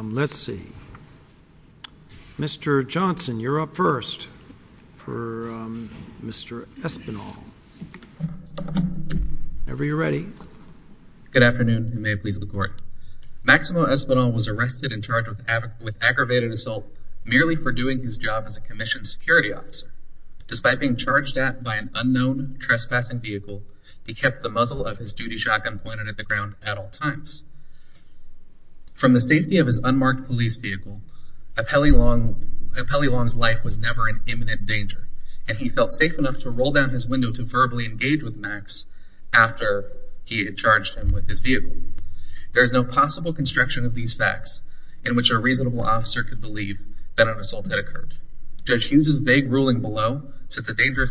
Let's see. Mr. Johnson, you're up first for Mr. Espinal. Whenever you're ready. Good afternoon, and may it please the court. Maximo Espinal was arrested and charged with aggravated assault merely for doing his job as a Commissioned Security Officer. Despite being charged at by an unknown trespassing vehicle, he kept the muzzle of his duty shotgun pointed at the From the safety of his unmarked police vehicle, Apelli Long's life was never in imminent danger, and he felt safe enough to roll down his window to verbally engage with Max after he had charged him with his vehicle. There is no possible construction of these facts in which a reasonable officer could believe that an assault had occurred. Judge Hughes's vague ruling below sets a dangerous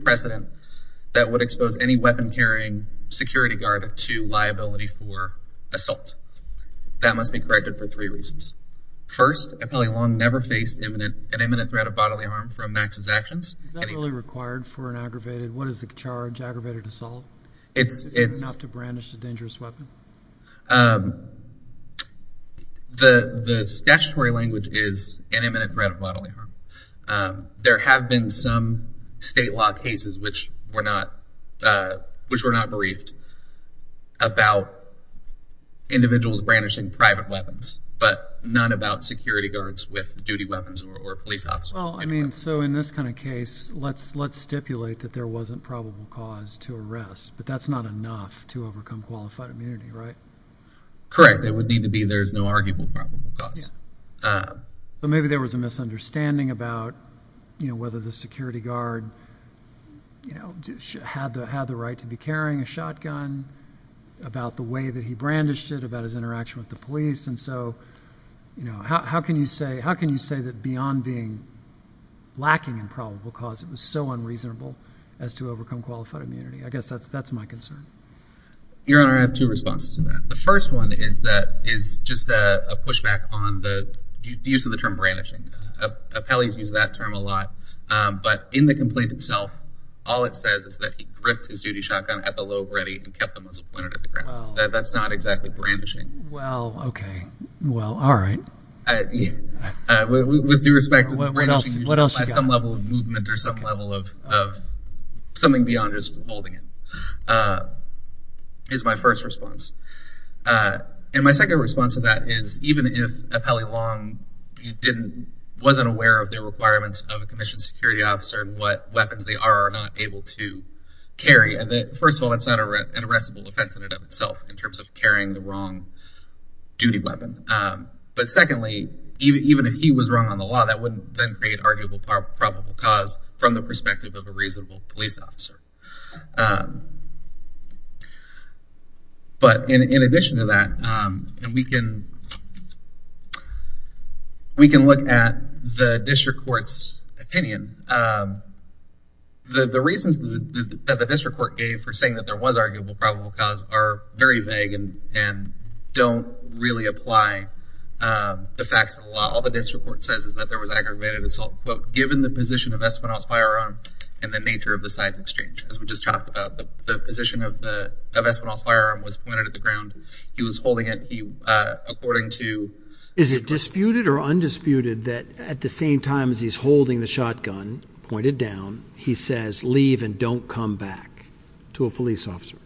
precedent that would expose any for assault. That must be corrected for three reasons. First, Apelli Long never faced an imminent threat of bodily harm from Max's actions. Is that really required for an aggravated, what is the charge, aggravated assault? Is it enough to brandish a dangerous weapon? The statutory language is an imminent threat of bodily harm. There have been some state law cases which were not briefed about individuals brandishing private weapons, but none about security guards with duty weapons or police officers. So in this kind of case, let's stipulate that there wasn't probable cause to arrest, but that's not enough to overcome qualified immunity, right? Correct. It would need to be there's no arguable probable cause. But maybe there was a misunderstanding about whether the security guard had the right to be carrying a shotgun, about the way that he brandished it, about his interaction with the police. And so how can you say that beyond being lacking in probable cause, it was so unreasonable as to overcome qualified immunity? I guess that's my concern. Your Honor, I have two responses to that. The first one is just a pushback on the use of the term brandishing. Apelli's used that term a lot. But in the complaint itself, all it says is that he gripped his duty shotgun at the lobe ready and kept the muzzle pointed at the ground. That's not exactly brandishing. Well, okay. Well, all right. With due respect to the brandishing, by some level of movement or some level of something beyond just holding it, is my first response. And my second response to that is even if Apelli Long wasn't aware of the requirements of a commissioned security officer and what weapons they are or are not able to carry, and that first of all, it's not an arrestable offense in and of itself in terms of carrying the wrong duty weapon. But secondly, even if he was wrong on the law, that wouldn't then create probable cause from the perspective of a reasonable police officer. But in addition to that, we can look at the district court's opinion. The reasons that the district court gave for saying that there was arguable probable cause are very vague and don't really apply the facts of the law. All the district court says is that there was aggravated assault, but given the position of Espinosa firearm and the nature of the sides exchange, as we just talked about, the position of the of Espinosa firearm was pointed at the ground. He was holding it according to. Is it disputed or undisputed that at the same time as he's holding the shotgun pointed down, he says leave and don't come back to a police officer?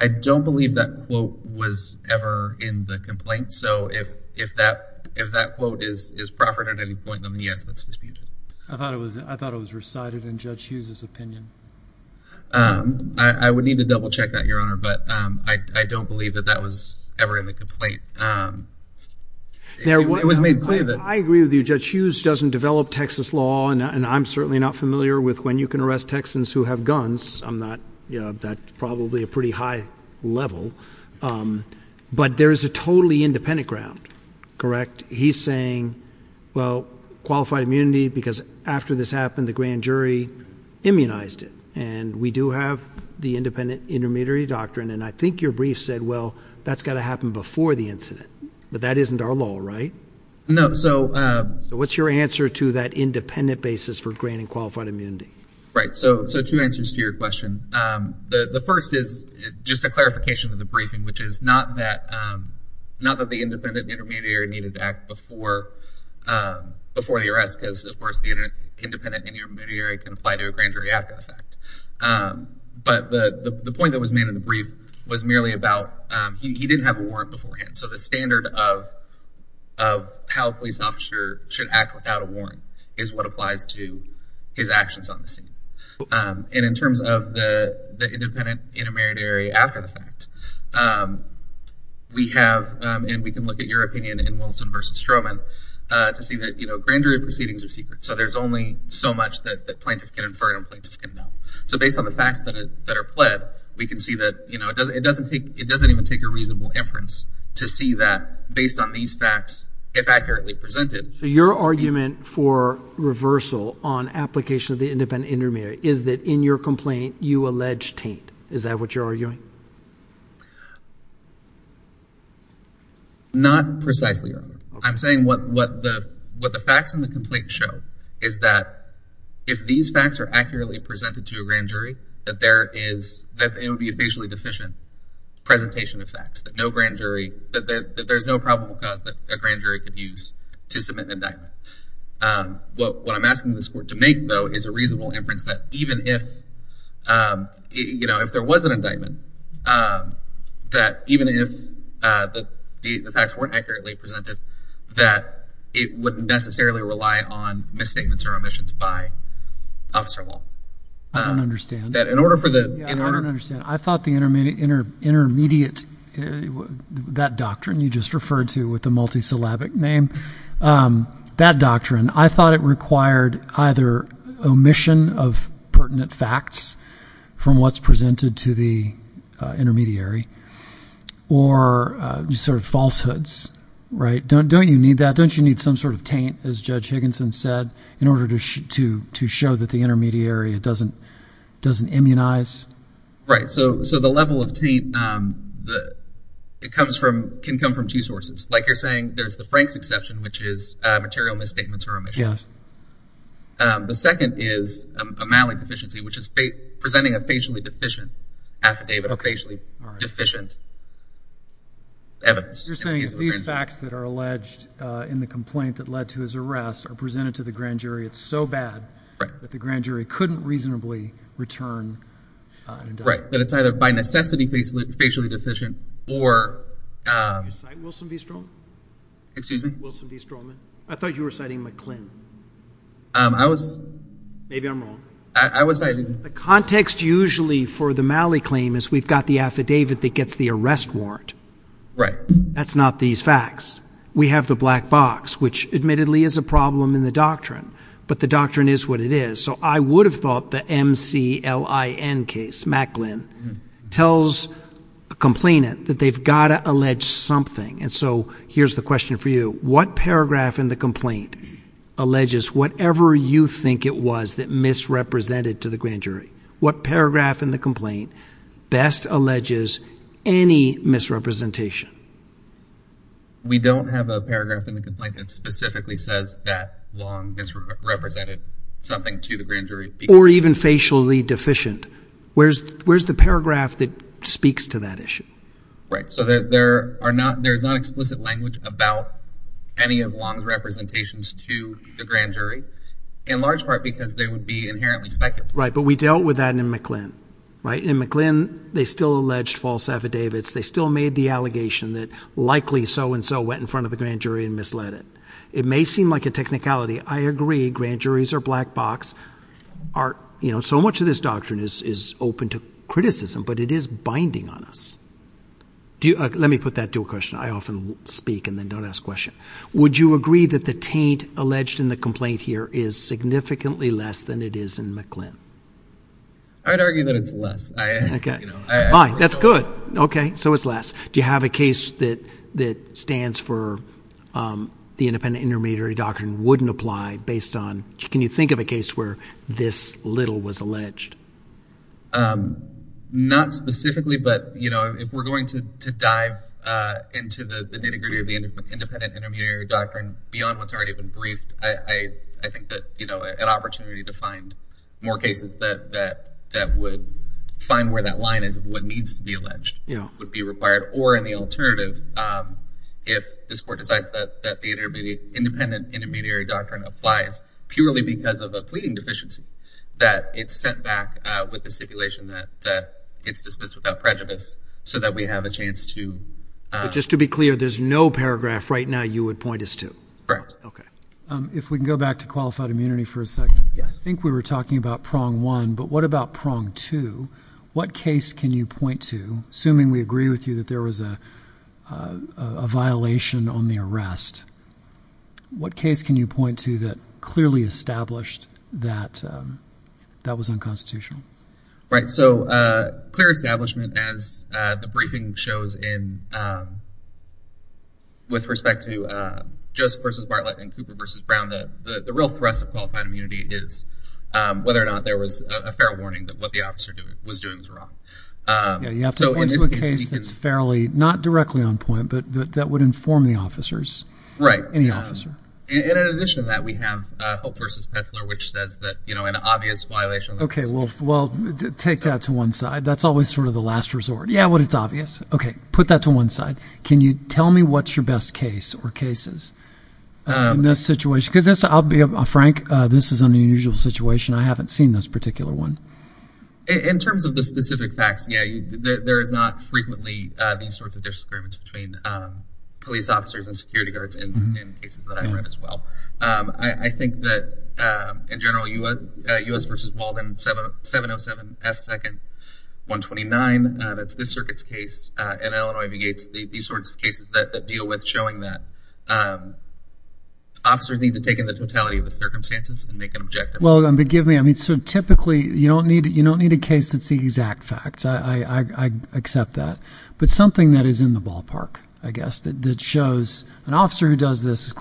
I don't believe that quote was ever in the complaint, so if if that if that quote is is proper at any point, then yes, that's disputed. I thought it was. I thought it was recited in Judge Hughes's opinion. I would need to double check that your honor, but I don't believe that that was ever in the complaint. It was made clear that I agree with you. Judge Hughes doesn't develop Texas law and I'm certainly not familiar with when you can arrest Texans who have guns. I'm not that probably a pretty high level, but there is a totally independent ground, correct? He's saying well qualified immunity because after this happened, the grand jury immunized it and we do have the independent intermediary doctrine and I think your brief said well that's got to happen before the incident, but that isn't our law, right? No, so what's your answer to that independent basis for granting qualified immunity? Right, so two answers to your question. The first is just a clarification of the briefing, which is not that not that the independent intermediary needed to act before before the arrest, because of course the independent intermediary can apply to a grand jury after the fact, but the the point that was made in the brief was merely about he didn't have a warrant beforehand, so the standard of how a police officer should act without a his actions on the scene. And in terms of the the independent intermediary after the fact, we have and we can look at your opinion in Wilson versus Stroman to see that you know grand jury proceedings are secret, so there's only so much that the plaintiff can infer and plaintiff can know. So based on the facts that are pled, we can see that you know it doesn't it doesn't take it doesn't even take a reasonable inference to see that based on these facts if accurately presented. So your argument for reversal on application of the independent intermediary is that in your complaint you allege taint. Is that what you're arguing? Not precisely. I'm saying what what the what the facts in the complaint show is that if these facts are accurately presented to a grand jury that there is that it would be a facially deficient presentation of facts that no grand jury that there's no probable cause that a grand jury could use to submit an indictment. What what I'm asking this court to make though is a reasonable inference that even if you know if there was an indictment that even if the facts weren't accurately presented that it wouldn't necessarily rely on misstatements or omissions by officer law. I don't understand. That in order for the in order. I don't understand. I thought the name that doctrine I thought it required either omission of pertinent facts from what's presented to the intermediary or just sort of falsehoods right don't don't you need that don't you need some sort of taint as judge Higginson said in order to to to show that the intermediary it doesn't doesn't immunize. Right so so the level of taint the it comes from can come from two which is material misstatements or omissions. Yeah. The second is a malleable deficiency which is presenting a facially deficient affidavit of facially deficient evidence. You're saying these facts that are alleged in the complaint that led to his arrest are presented to the grand jury it's so bad that the grand jury couldn't reasonably return an indictment. Right but it's either by excuse me. Wilson B Stroman. I thought you were citing McClin. Um I was. Maybe I'm wrong. I was citing. The context usually for the Malley claim is we've got the affidavit that gets the arrest warrant. Right. That's not these facts. We have the black box which admittedly is a problem in the doctrine but the doctrine is what it is. So I would have thought the MCLIN case Macklin tells a complainant that they've got to allege something and so here's the question for you. What paragraph in the complaint alleges whatever you think it was that misrepresented to the grand jury? What paragraph in the complaint best alleges any misrepresentation? We don't have a paragraph in the complaint that specifically says that long misrepresented something to the speaks to that issue. Right so there are not there's not explicit language about any of Long's representations to the grand jury in large part because they would be inherently speculative. Right but we dealt with that in McLin. Right in McLin they still alleged false affidavits. They still made the allegation that likely so-and-so went in front of the grand jury and misled it. It may seem like a technicality. I agree grand juries are black box are you know much of this doctrine is is open to criticism but it is binding on us. Do you let me put that to a question I often speak and then don't ask question. Would you agree that the taint alleged in the complaint here is significantly less than it is in McLin? I'd argue that it's less. Okay fine that's good okay so it's less. Do you have a case that that stands for the independent intermediary doctrine wouldn't apply based on can you think of a case where this little was alleged? Not specifically but you know if we're going to to dive into the the nitty-gritty of the independent intermediary doctrine beyond what's already been briefed I think that you know an opportunity to find more cases that that that would find where that line is of what needs to be alleged would be required or in the alternative if this court decides that that the intermediate independent intermediary doctrine applies purely because of a pleading deficiency that it's sent back with the stipulation that that it's dismissed without prejudice so that we have a chance to. Just to be clear there's no paragraph right now you would point us to? Correct. Okay if we can go back to qualified immunity for a second yes I think we were talking about prong one but what about prong two what case can you point to assuming we agree with you that there was a a violation on the arrest what case can you point to that clearly established that that was unconstitutional? Right so uh clear establishment as uh the briefing shows in um with respect to uh Joseph versus Bartlett and Cooper versus Brown that the the real thrust of qualified immunity is um whether or not there was a fair warning that what the officer was doing was wrong. Yeah you have to point to a case that's fairly not we have uh Hope versus Petzler which says that you know an obvious violation. Okay well well take that to one side that's always sort of the last resort yeah what it's obvious okay put that to one side can you tell me what's your best case or cases in this situation because this I'll be frank uh this is an unusual situation I haven't seen this particular one. In terms of the specific facts yeah there is not frequently uh these sorts of disagreements between um police officers and I think that um in general you would uh U.S. versus Walden 707 F second 129 uh that's this circuit's case uh and Illinois negates the these sorts of cases that deal with showing that um officers need to take in the totality of the circumstances and make an objective. Well forgive me I mean so typically you don't need you don't need a case that's the exact facts I I accept that but something that is in the ballpark I guess that shows an officer who does this is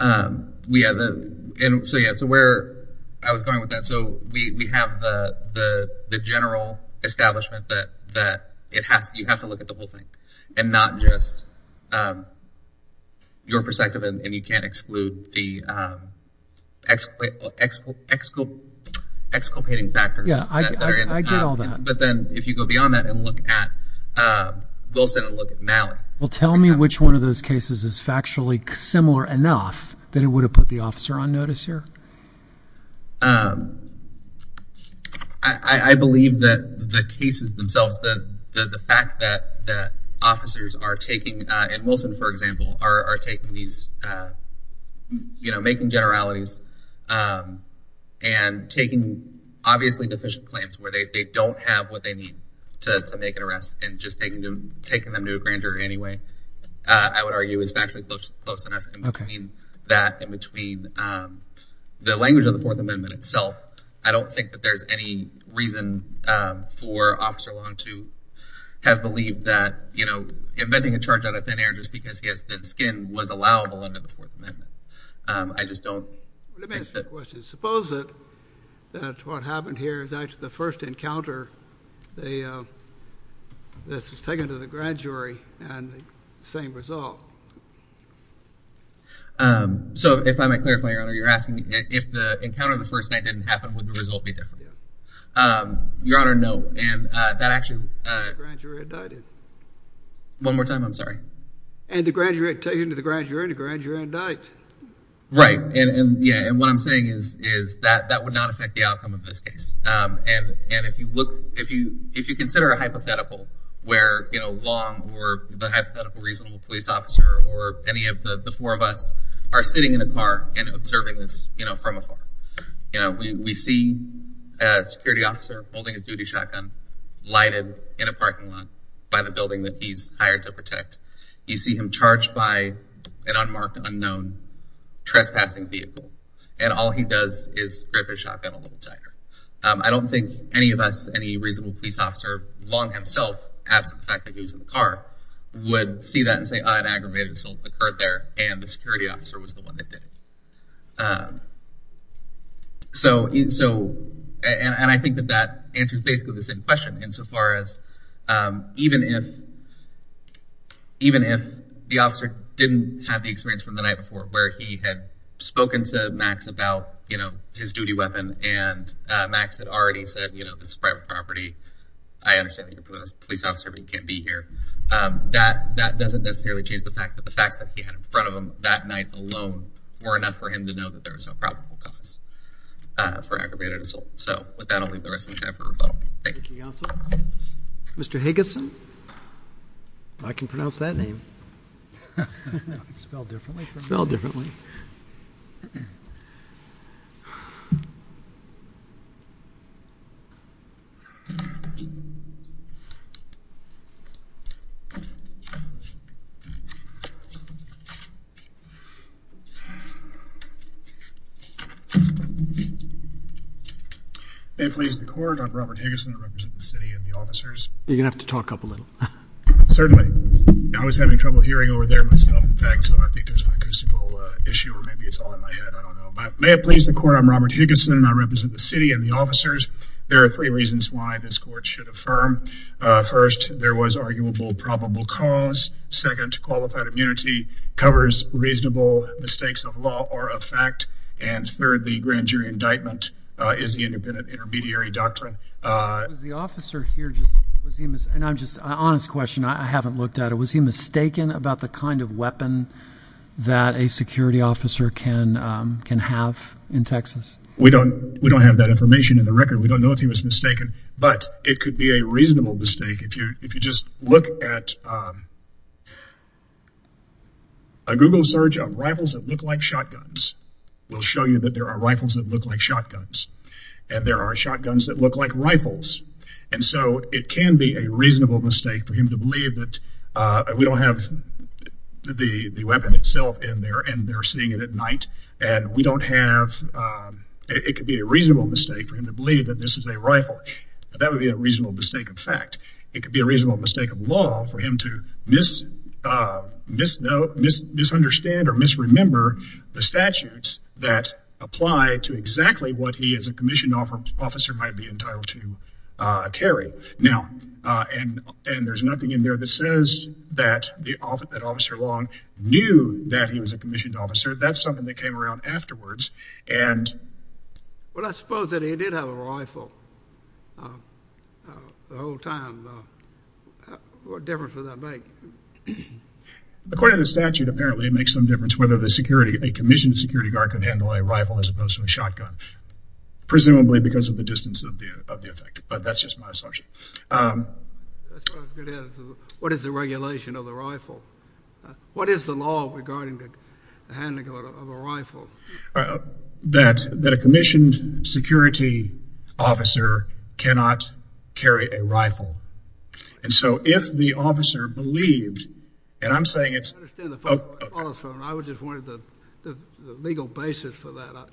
um we have the and so yeah so where I was going with that so we we have the the the general establishment that that it has you have to look at the whole thing and not just um your perspective and you can't exclude the um ex ex exculpating factors yeah I get all that but then if you go beyond that and look at uh Wilson and look at Mallory. Well tell me which one of that it would have put the officer on notice here um I I believe that the cases themselves that the the fact that that officers are taking uh and Wilson for example are are taking these uh you know making generalities um and taking obviously deficient claims where they they don't have what they need to to make an arrest and just taking them taking them to a grand jury anyway uh I would argue it's actually close close enough in between that in between um the language of the fourth amendment itself I don't think that there's any reason um for officer long to have believed that you know inventing a charge out of thin air just because he has thin skin was allowable under the fourth amendment um I just don't let me ask you a question suppose that that's what happened here is actually the first encounter they uh this was taken to the grand same result um so if I might clarify your honor you're asking if the encounter the first night didn't happen would the result be different um your honor no and uh that actually uh one more time I'm sorry and the graduate taking to the grand jury to grant your own diet right and and yeah and what I'm saying is is that that would not affect the outcome of this case um and and if you look if you if you consider a hypothetical where you know long or the reasonable police officer or any of the the four of us are sitting in a car and observing this you know from afar you know we we see a security officer holding his duty shotgun lighted in a parking lot by the building that he's hired to protect you see him charged by an unmarked unknown trespassing vehicle and all he does is rip his shotgun a little tighter I don't think any of us any reasonable police officer long himself absent the fact that he was in the car would see that and say an aggravated assault occurred there and the security officer was the one that did so so and I think that that answers basically the same question insofar as um even if even if the officer didn't have the experience from the night before where he had spoken to max about you know his duty weapon and uh max had already said you know this is private property I understand that you're a police officer but you can't be here um that that doesn't necessarily change the fact that the facts that he had in front of him that night alone were enough for him to know that there was no probable cause uh for aggravated assault so with that I'll leave the rest of the time for rebuttal thank you Mr. Higginson I can pronounce that name it's spelled differently spelled differently and please the court I'm Robert Higginson I represent the city and the officers you're gonna have to talk up a little certainly I was having trouble hearing over there myself so I think there's an acoustical issue or maybe it's all in my head I don't know but may it please the court I'm Robert Higginson and I represent the city and the officers there are three reasons why this court should affirm uh first there was arguable probable cause second qualified immunity covers reasonable mistakes of law or of fact and third the grand jury indictment uh is the independent intermediary doctrine uh was the officer here just was he and I'm just honest question I haven't looked at it was he mistaken about the kind of weapon that a security officer can um can have in Texas we don't we don't have that information in the record we don't know if he was mistaken but it could be a reasonable mistake if you if you just look at a google search of rifles that look like shotguns will show you that there are rifles that look like shotguns and there are shotguns that look like rifles and so it can be a reasonable mistake for him to believe that uh we don't have the the weapon itself in there and they're seeing it at night and we don't have um it could be a reasonable mistake for him to believe that this is a rifle that would be a reasonable mistake of fact it could be a reasonable mistake of law for him to miss uh miss no miss misunderstand or misremember the statutes that apply to exactly what he is a in there that says that the officer that officer long knew that he was a commissioned officer that's something that came around afterwards and well I suppose that he did have a rifle the whole time what difference would that make according to the statute apparently it makes some difference whether the security a commissioned security guard could handle a rifle as opposed to a shotgun presumably because of the distance of the effect but that's just my assumption um what is the regulation of the rifle what is the law regarding the handling of a rifle that that a commissioned security officer cannot carry a rifle and so if the officer believed and I'm saying it's from I would just wanted the the legal basis for that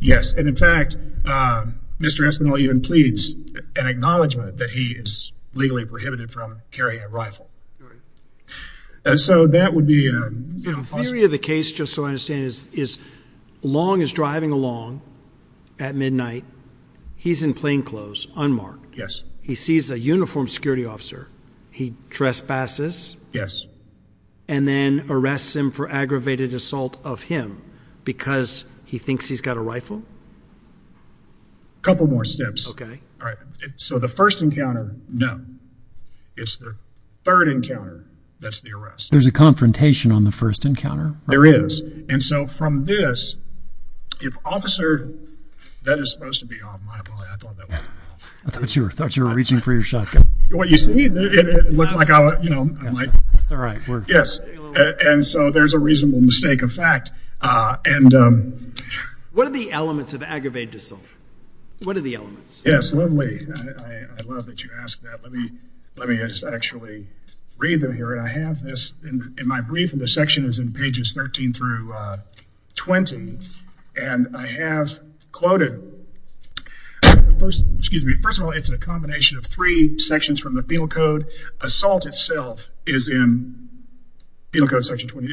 yes and in fact um Mr. Espinel even pleads an acknowledgement that he is legally prohibited from carrying a rifle and so that would be a theory of the case just so I understand is is long is driving along at midnight he's in plainclothes unmarked yes he sees a uniformed security officer he trespasses yes and then arrests him for aggravated assault of him because he thinks he's got a rifle a couple more steps okay all right so the first encounter no it's the third encounter that's the arrest there's a confrontation on the first encounter there is and so from this if officer that is supposed to be off my body I thought that was I thought you were thought you were reaching for your shotgun what you see it looked like I was you know I'm like it's all right yes and so there's a reasonable mistake of fact uh and um what are the elements of aggravated assault what are the elements yes lovely I I love that you asked that let me let me just actually read them here and I have this in my brief in the section is in pages 13 through uh 20 and I have quoted the first excuse me first of all it's a combination of three sections from the field code assault itself is in field code section 20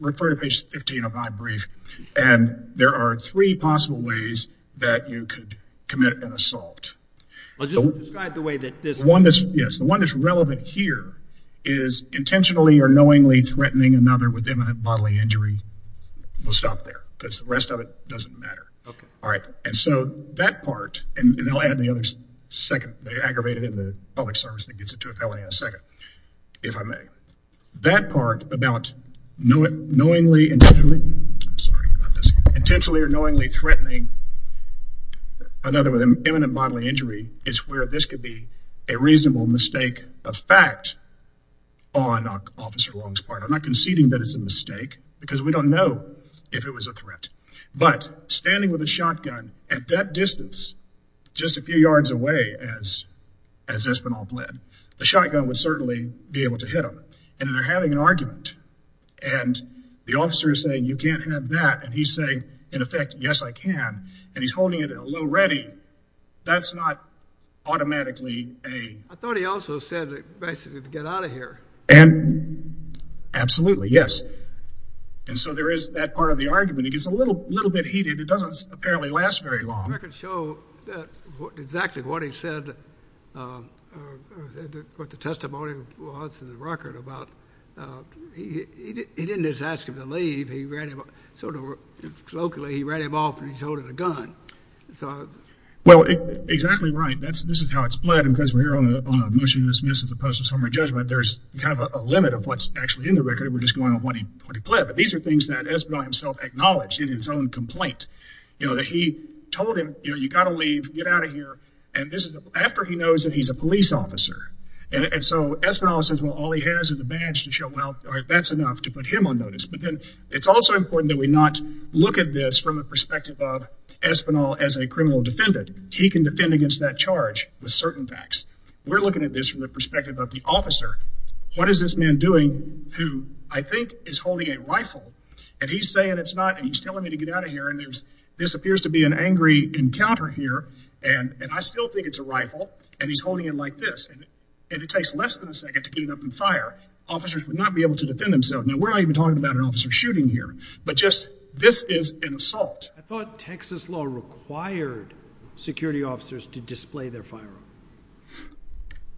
refer to page 15 of my brief and there are three possible ways that you could commit an assault well just describe the way that this one this yes the one that's relevant here is intentionally or knowingly threatening another with imminent bodily injury we'll stop there because the rest of it doesn't matter okay all right and so that part and they'll add the other second they aggravated in the public service that gets it to a felony in a second if I may that part about knowing knowingly intentionally I'm sorry about this intentionally or knowingly threatening another with an imminent bodily injury is where this could be a reasonable mistake of fact on officer long's part I'm not conceding that it's a mistake because we don't know if it was a threat but standing with a shotgun at that distance just a few yards away as as espinal bled the shotgun would certainly be able to hit him and they're having an argument and the officer is saying you can't have that and he's saying in effect yes I can and he's holding it at a low ready that's not automatically a I thought he also said that basically to get out of here and absolutely yes and so there is that part of the argument it gets a little little bit heated it doesn't apparently last very long I can show that exactly what he said what the testimony was in the record about he he didn't just ask him to leave he ran him over locally he ran him off and he's holding a gun so well exactly right that's this is how it's played because we're here on a motion to dismiss as opposed to summary judgment there's kind of a limit of what's actually in the record we're just going on what he what he played but these are things that espinal himself acknowledged in his own complaint you know that he told him you know you got to leave get out of here and this is after he knows that he's a police officer and so espinal says well all he has is a badge to show well all right that's enough to put him on look at this from the perspective of espinal as a criminal defendant he can defend against that charge with certain facts we're looking at this from the perspective of the officer what is this man doing who I think is holding a rifle and he's saying it's not and he's telling me to get out of here and there's this appears to be an angry encounter here and and I still think it's a rifle and he's holding it like this and it takes less than a second to get it up and fire officers would not be able to defend themselves now we're not even talking about an officer shooting here but just this is an assault I thought texas law required security officers to display their firearm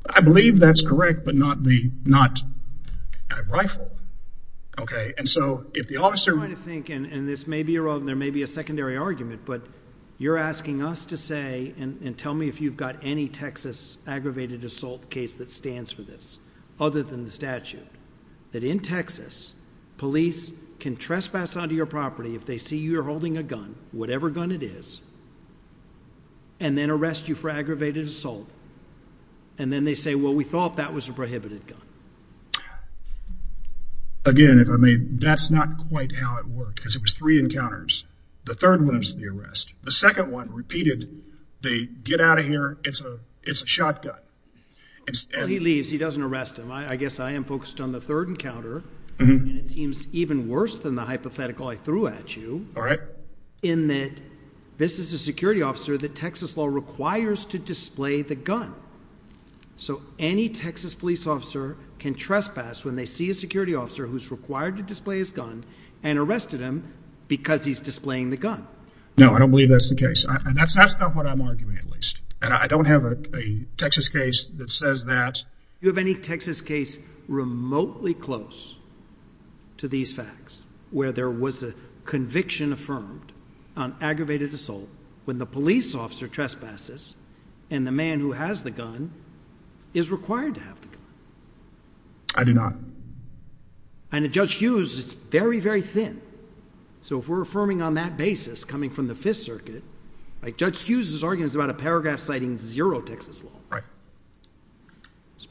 I believe that's correct but not the not a rifle okay and so if the officer trying to think and this may be wrong there may be a secondary argument but you're asking us to say and tell me if you've got any texas aggravated assault case that stands for other than the statute that in texas police can trespass onto your property if they see you're holding a gun whatever gun it is and then arrest you for aggravated assault and then they say well we thought that was a prohibited gun again if I may that's not quite how it worked because it was three encounters the third one was the arrest the second one repeated they get out of here it's a shotgun he leaves he doesn't arrest him I guess I am focused on the third encounter and it seems even worse than the hypothetical I threw at you all right in that this is a security officer that texas law requires to display the gun so any texas police officer can trespass when they see a security officer who's required to display his gun and arrested him because he's displaying the gun no I don't believe that's the case and that's that's not what I'm arguing at I don't have a texas case that says that you have any texas case remotely close to these facts where there was a conviction affirmed on aggravated assault when the police officer trespasses and the man who has the gun is required to have the gun I do not and Judge Hughes it's very very thin so if we're affirming on that basis coming from the fifth circuit like Judge Hughes's argument about a paragraph citing zero texas law right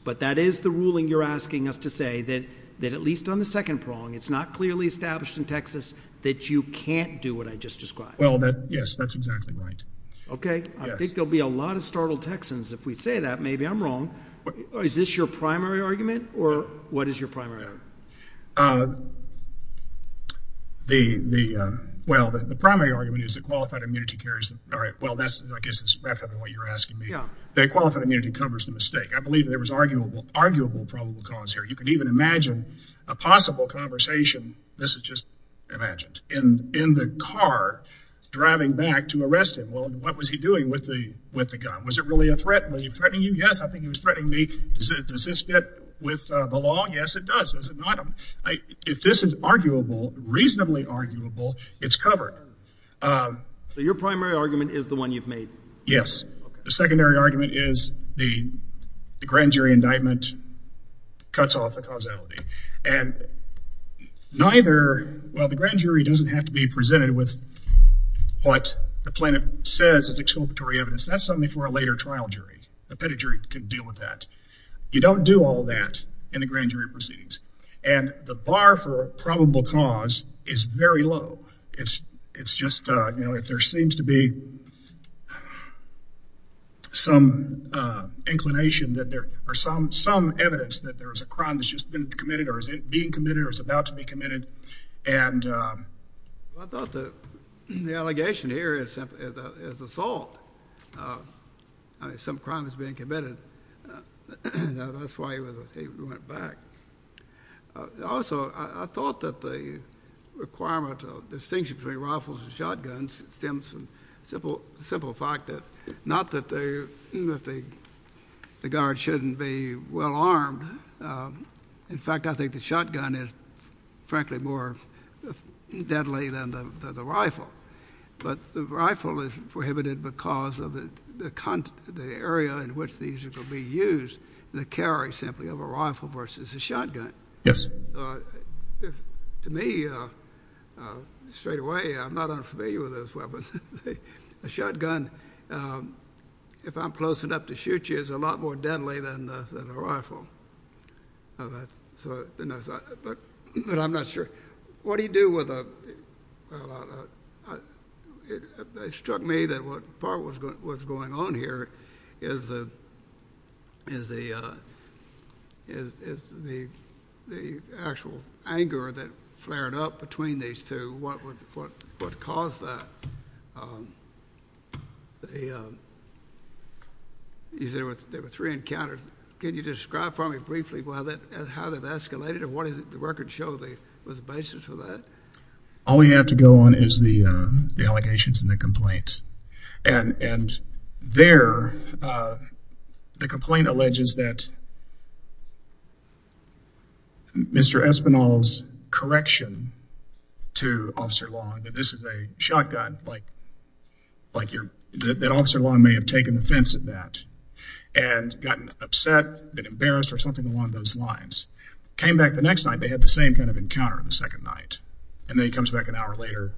but that is the ruling you're asking us to say that that at least on the second prong it's not clearly established in texas that you can't do what I just described well that yes that's exactly right okay I think there'll be a lot of startled texans if we say that maybe I'm wrong is this your primary argument or what is your primary argument uh you're asking me yeah the qualified immunity covers the mistake I believe there was arguable arguable probable cause here you can even imagine a possible conversation this is just imagined in in the car driving back to arrest him well what was he doing with the with the gun was it really a threat were you threatening you yes I think he was threatening me does this fit with the law yes it does does it not if this is arguable reasonably arguable it's covered um so your primary argument is the one you've made yes the secondary argument is the the grand jury indictment cuts off the causality and neither well the grand jury doesn't have to be presented with what the plaintiff says it's exculpatory evidence that's something for a later trial jury the pedigree could deal with that you don't do all that in the grand jury proceedings and the bar for uh some uh inclination that there are some some evidence that there is a crime that's just been committed or is it being committed or is about to be committed and uh I thought that the allegation here is simply is assault uh I mean some crime is being committed that's why he was he went back also I thought that the requirement of distinction between rifles and shotguns simple simple fact that not that they that the guard shouldn't be well armed in fact I think the shotgun is frankly more deadly than the the rifle but the rifle is prohibited because of the the content the area in which these are going to be used the carry simply of a rifle versus a shotgun yes to me uh uh straight away I'm not unfamiliar with those weapons a shotgun um if I'm close enough to shoot you it's a lot more deadly than the than a rifle all right so but I'm not sure what do you do with a well uh it struck me that what part was going what's going on here is the is the uh is is the the actual anger that between these two what what what caused that um the um he said there were three encounters can you describe for me briefly why that and how they've escalated and what is it the record show they was the basis for that all we have to go on is the uh the allegations and the complaint and and there uh the complaint alleges that Mr. Espinal's correction to Officer Long that this is a shotgun like like you're that Officer Long may have taken offense at that and gotten upset been embarrassed or something along those lines came back the next night they had the same kind of encounter the second night and then he comes back an hour later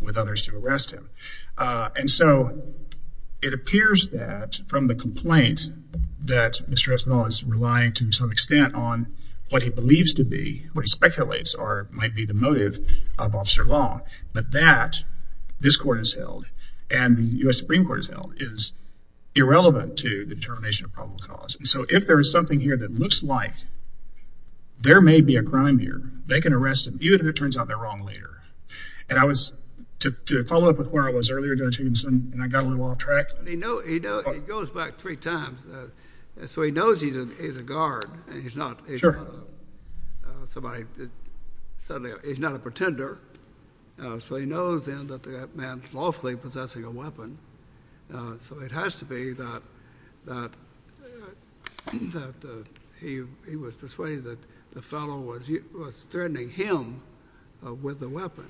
with others to arrest him uh and so it appears that from the complaint that Mr. Espinal is relying to some extent on what he believes to be what he speculates or might be the motive of Officer Long but that this court has held and the U.S. Supreme Court has held is irrelevant to the determination of probable cause and so if there is something here that looks like there may be a crime here they can arrest him even if it turns out they're wrong later and I was to to follow up with where I was earlier Judge Higginson and I got a little track he knows he goes back three times so he knows he's a guard and he's not sure somebody said he's not a pretender so he knows then that that man's lawfully possessing a weapon so it has to be that that that he he was persuaded that the fellow was threatening him with a weapon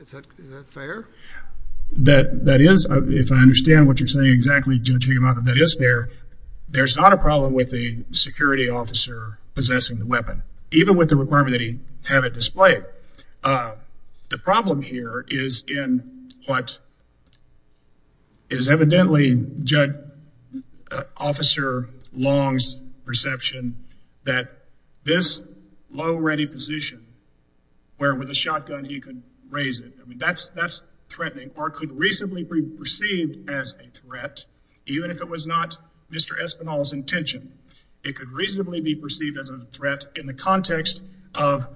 is that is that fair that that is if I understand what you're saying exactly Judge Higginson that is fair there's not a problem with the security officer possessing the weapon even with the requirement that he have it displayed uh the problem here is in what is evidently Judge Officer Long's perception that this low ready position with a shotgun he could raise it I mean that's that's threatening or could reasonably be perceived as a threat even if it was not Mr. Espinal's intention it could reasonably be perceived as a threat in the context of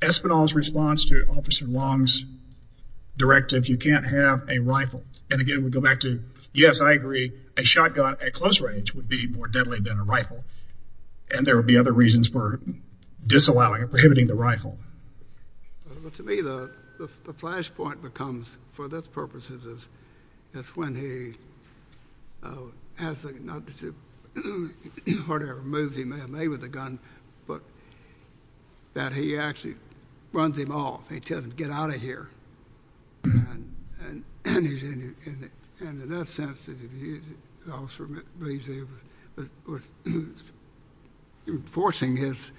Espinal's response to Officer Long's directive you can't have a rifle and again we go back to yes I agree a shotgun at close range would be more deadly than a rifle and there would be other reasons for disallowing or prohibiting the rifle but to me the the flash point becomes for this purposes is that's when he has the not to do whatever moves he may have made with the gun but that he actually runs him off he tells him get out of here and and he's in and in that sense the officer believes he was forcing his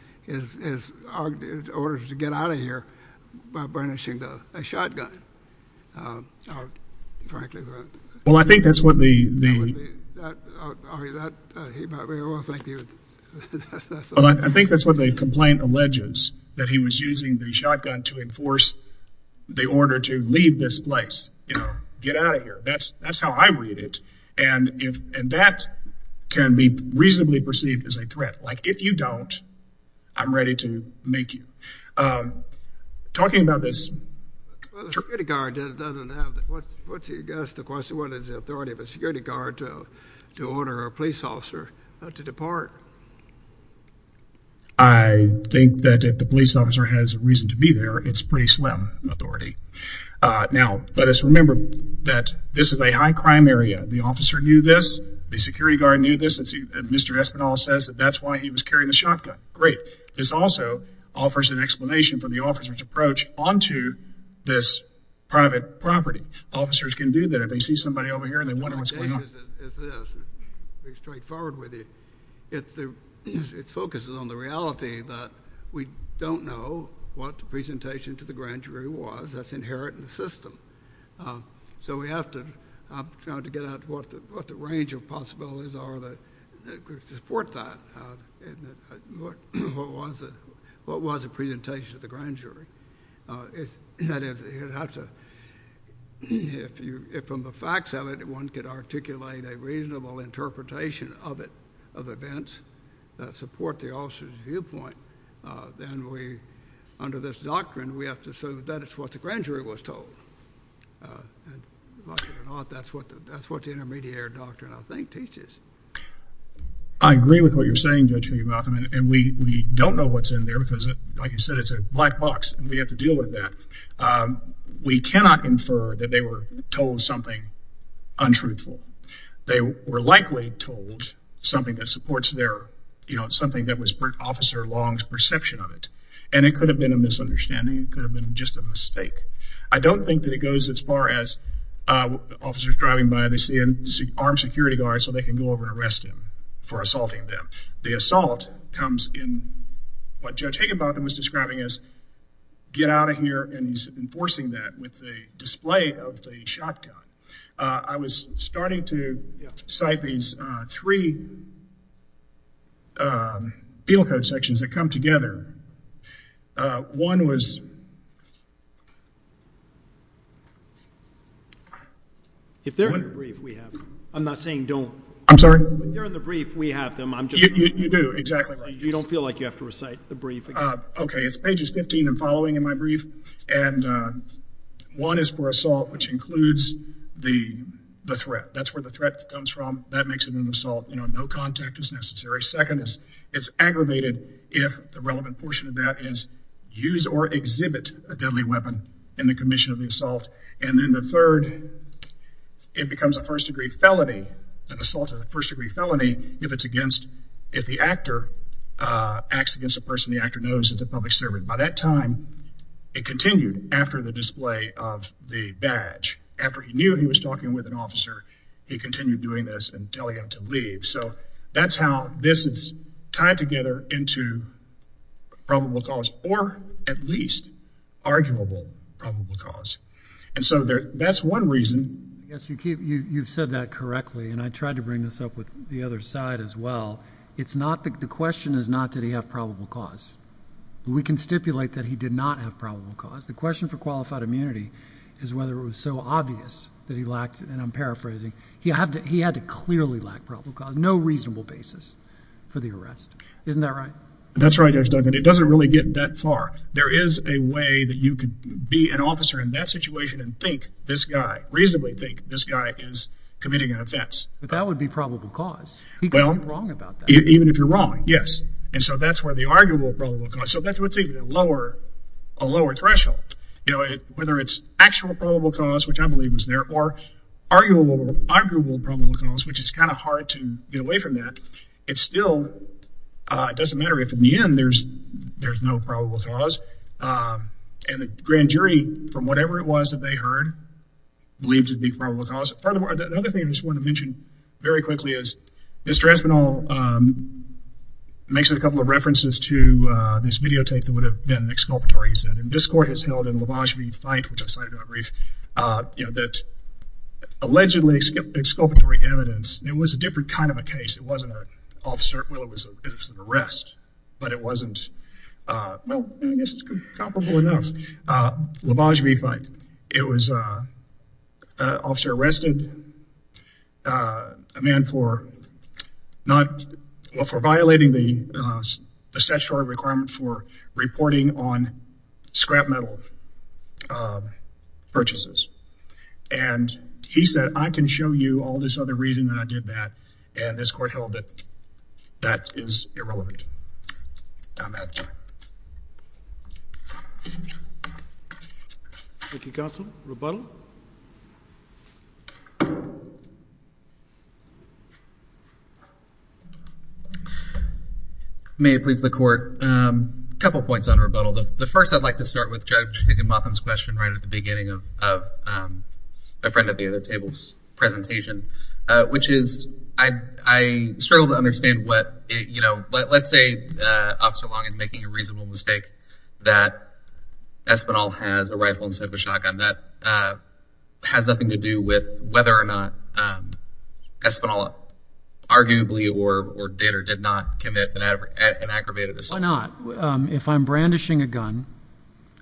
orders to get out of here by burnishing the a shotgun um frankly well I think that's what the well I think that's what the complaint alleges that he was using the shotgun to enforce the order to leave this place you know get out of here that's that's how I read it and if and that can be reasonably perceived as a threat like if you don't I'm ready to make you um talking about this security guard doesn't have that what what's your guess the question what is the authority of a security guard to to order a police officer not to depart I think that if the police officer has a reason to be there it's pretty slim authority uh now let us remember that this is a high crime area the officer knew this the security guard knew this and see Mr. Espinal says that that's why he was carrying the shotgun great this also offers an explanation for the officer's approach onto this private property officers can do that if they see somebody over here and they wonder what's going on straightforward with it it's the it focuses on the reality that we don't know what the was that's inherent in the system so we have to try to get out what the what the range of possibilities are that could support that uh and what what was it what was the presentation of the grand jury uh it's that if you have to if you if from the facts of it one could articulate a reasonable interpretation of it of events that support the officer's viewpoint uh then we under this doctrine we have to say that it's what the grand jury was told uh and like it or not that's what that's what the intermediary doctrine I think teaches I agree with what you're saying Judge Higginbotham and we we don't know what's in there because like you said it's a black box and we have to deal with that um we cannot infer that they were told something untruthful they were likely told something that supports their you know something was officer long's perception of it and it could have been a misunderstanding it could have been just a mistake I don't think that it goes as far as uh officers driving by they see an armed security guard so they can go over and arrest him for assaulting them the assault comes in what Judge Higginbotham was describing as get out of here and he's enforcing that with the display of field code sections that come together uh one was if they're in the brief we have I'm not saying don't I'm sorry if they're in the brief we have them I'm just you do exactly you don't feel like you have to recite the brief okay it's pages 15 and following in my brief and uh one is for assault which includes the the threat that's where the threat comes from that makes it an assault you know no contact is necessary second it's aggravated if the relevant portion of that is use or exhibit a deadly weapon in the commission of the assault and then the third it becomes a first degree felony an assault of the first degree felony if it's against if the actor uh acts against a person the actor knows it's a public servant by that time it continued after the display of the badge after he knew he was talking with an officer he continued doing this and telling him to leave so that's how this is tied together into probable cause or at least arguable probable cause and so there that's one reason yes you keep you you've said that correctly and I tried to bring this up with the other side as well it's not the question is not did he have probable cause we can stipulate that he did not have probable cause the it was so obvious that he lacked and I'm paraphrasing he had to he had to clearly lack probable cause no reasonable basis for the arrest isn't that right that's right there's nothing it doesn't really get that far there is a way that you could be an officer in that situation and think this guy reasonably think this guy is committing an offense but that would be probable cause well wrong about that even if you're wrong yes and so that's where the arguable probable cause so that's what's even a lower a lower threshold you know whether it's actual probable cause which I believe was there or arguable arguable probable cause which is kind of hard to get away from that it's still it doesn't matter if in the end there's there's no probable cause and the grand jury from whatever it was that they heard believed it'd be probable cause furthermore the other thing I just want to mention very quickly is Mr. Espinel makes it a couple of references to this videotape that would have been exculpatory he said and this court has held in LaVange v. Fite which I cited on brief you know that allegedly exculpatory evidence it was a different kind of a case it wasn't an officer well it was an arrest but it wasn't well I guess it's comparable enough LaVange v. Fite it was a officer arrested a man for not well for violating the statutory requirement for reporting on scrap metal purchases and he said I can show you all this other reason that I did that and this court held that that is irrelevant on that may it please the court a couple points on rebuttal the first I'd like to start with Judge Higginbotham's question right at the beginning of a friend at the other table's which is I struggle to understand what it you know let's say Officer Long is making a reasonable mistake that Espinel has a rifle instead of a shotgun that has nothing to do with whether or not Espinel arguably or did or did not commit an aggravated assault why not if I'm brandishing a gun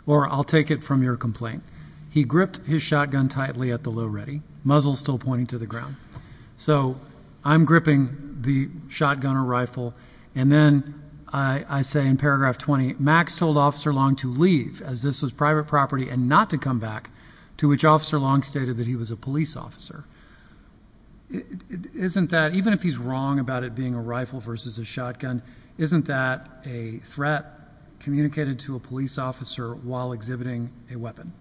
or I'll take it from your complaint he gripped his shotgun tightly at the low ready muzzle still pointing to the ground so I'm gripping the shotgun or rifle and then I say in paragraph 20 Max told Officer Long to leave as this was private property and not to come back to which Officer Long stated that he was a police officer isn't that even if he's wrong about it being a rifle versus a shotgun isn't that a threat communicated to a police officer while exhibiting a weapon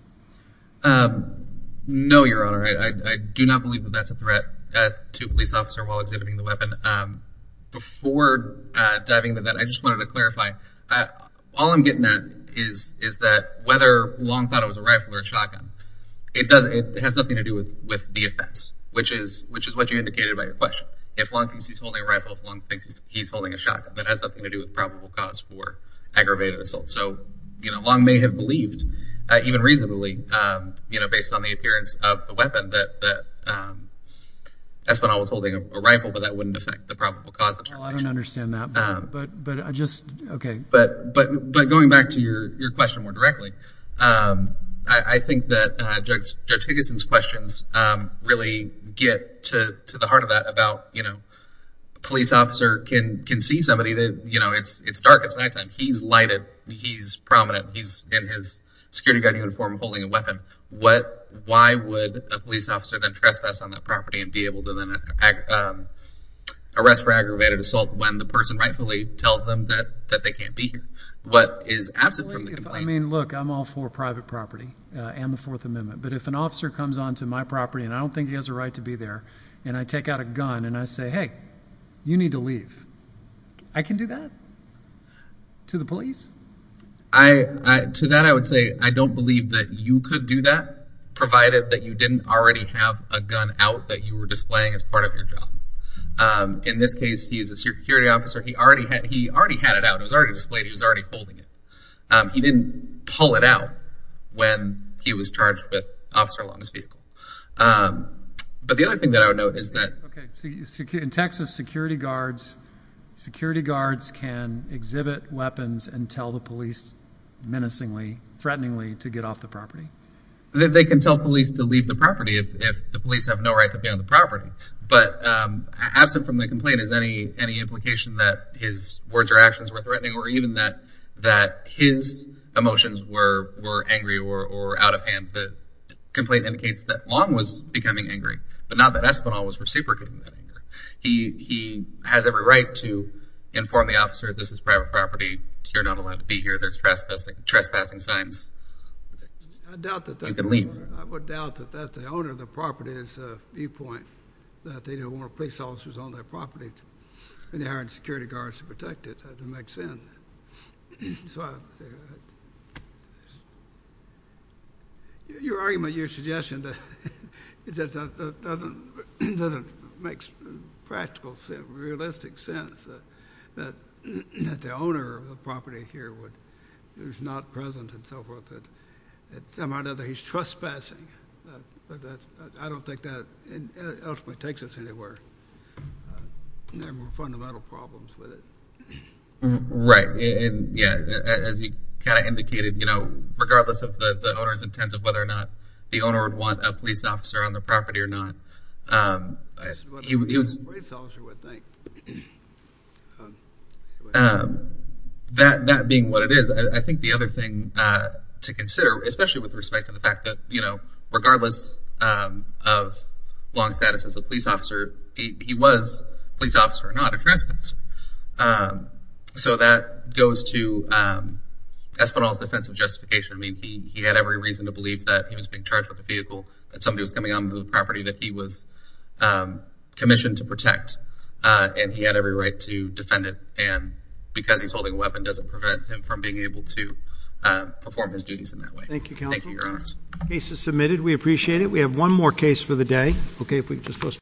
um no your honor I do not believe that that's a threat uh to a police officer while exhibiting the weapon um before uh diving into that I just wanted to clarify uh all I'm getting at is is that whether Long thought it was a rifle or a shotgun it doesn't it has nothing to do with with the offense which is which is what you indicated by your question if Long thinks he's holding a rifle if Long thinks he's holding a shotgun that has something to do with probable cause for you know based on the appearance of the weapon that that um that's when I was holding a rifle but that wouldn't affect the probable cause I don't understand that but but but I just okay but but but going back to your your question more directly um I I think that uh Judge Higginson's questions um really get to to the heart of that about you know police officer can can see somebody that you know it's it's dark it's nighttime he's lighted he's prominent he's in his security uniform holding a weapon what why would a police officer then trespass on that property and be able to then arrest for aggravated assault when the person rightfully tells them that that they can't be here what is absent from the complaint I mean look I'm all for private property uh and the fourth amendment but if an officer comes on to my property and I don't think he has a right to be there and I take out a gun and I say hey you need to leave I can do that to the police I I to that I would say I don't believe that you could do that provided that you didn't already have a gun out that you were displaying as part of your job um in this case he is a security officer he already had he already had it out it was already displayed he was already holding it um he didn't pull it out when he was charged with officer along his vehicle um but the other thing that I would note is that okay so you secure in Texas security guards security guards can exhibit weapons and tell the police menacingly threateningly to get off the property that they can tell police to leave the property if if the police have no right to be on the property but um absent from the complaint is any any implication that his words or actions were threatening or even that that his emotions were were angry or or out of hand the complaint indicates that long was becoming angry but not that espinal was reciprocating that anger he he has every right to inform the officer this is to be here there's trespassing trespassing signs I doubt that you can leave I would doubt that that the owner of the property is a viewpoint that they don't want police officers on their property and they hired security guards to protect it to make sin so your argument your suggestion that it doesn't doesn't doesn't make practical realistic sense that that that the owner of the property here would there's not present and so forth that at some other he's trespassing but that I don't think that ultimately takes us anywhere there were fundamental problems with it right and yeah as he kind of indicated you know regardless of the the owner's intent of whether or not the owner would want a police officer on the property or not that that being what it is I think the other thing to consider especially with respect to the fact that you know regardless of long status as a police officer he was police officer or not a trespasser so that goes to espinal's defensive justification I mean he he had every reason to believe that he was being charged with a vehicle that somebody was coming on the property that he was commissioned to protect and he had every right to defend it and because he's holding a weapon doesn't prevent him from being able to perform his duties in that way thank you counsel case is submitted we appreciate it we have one more case for the day okay if we just post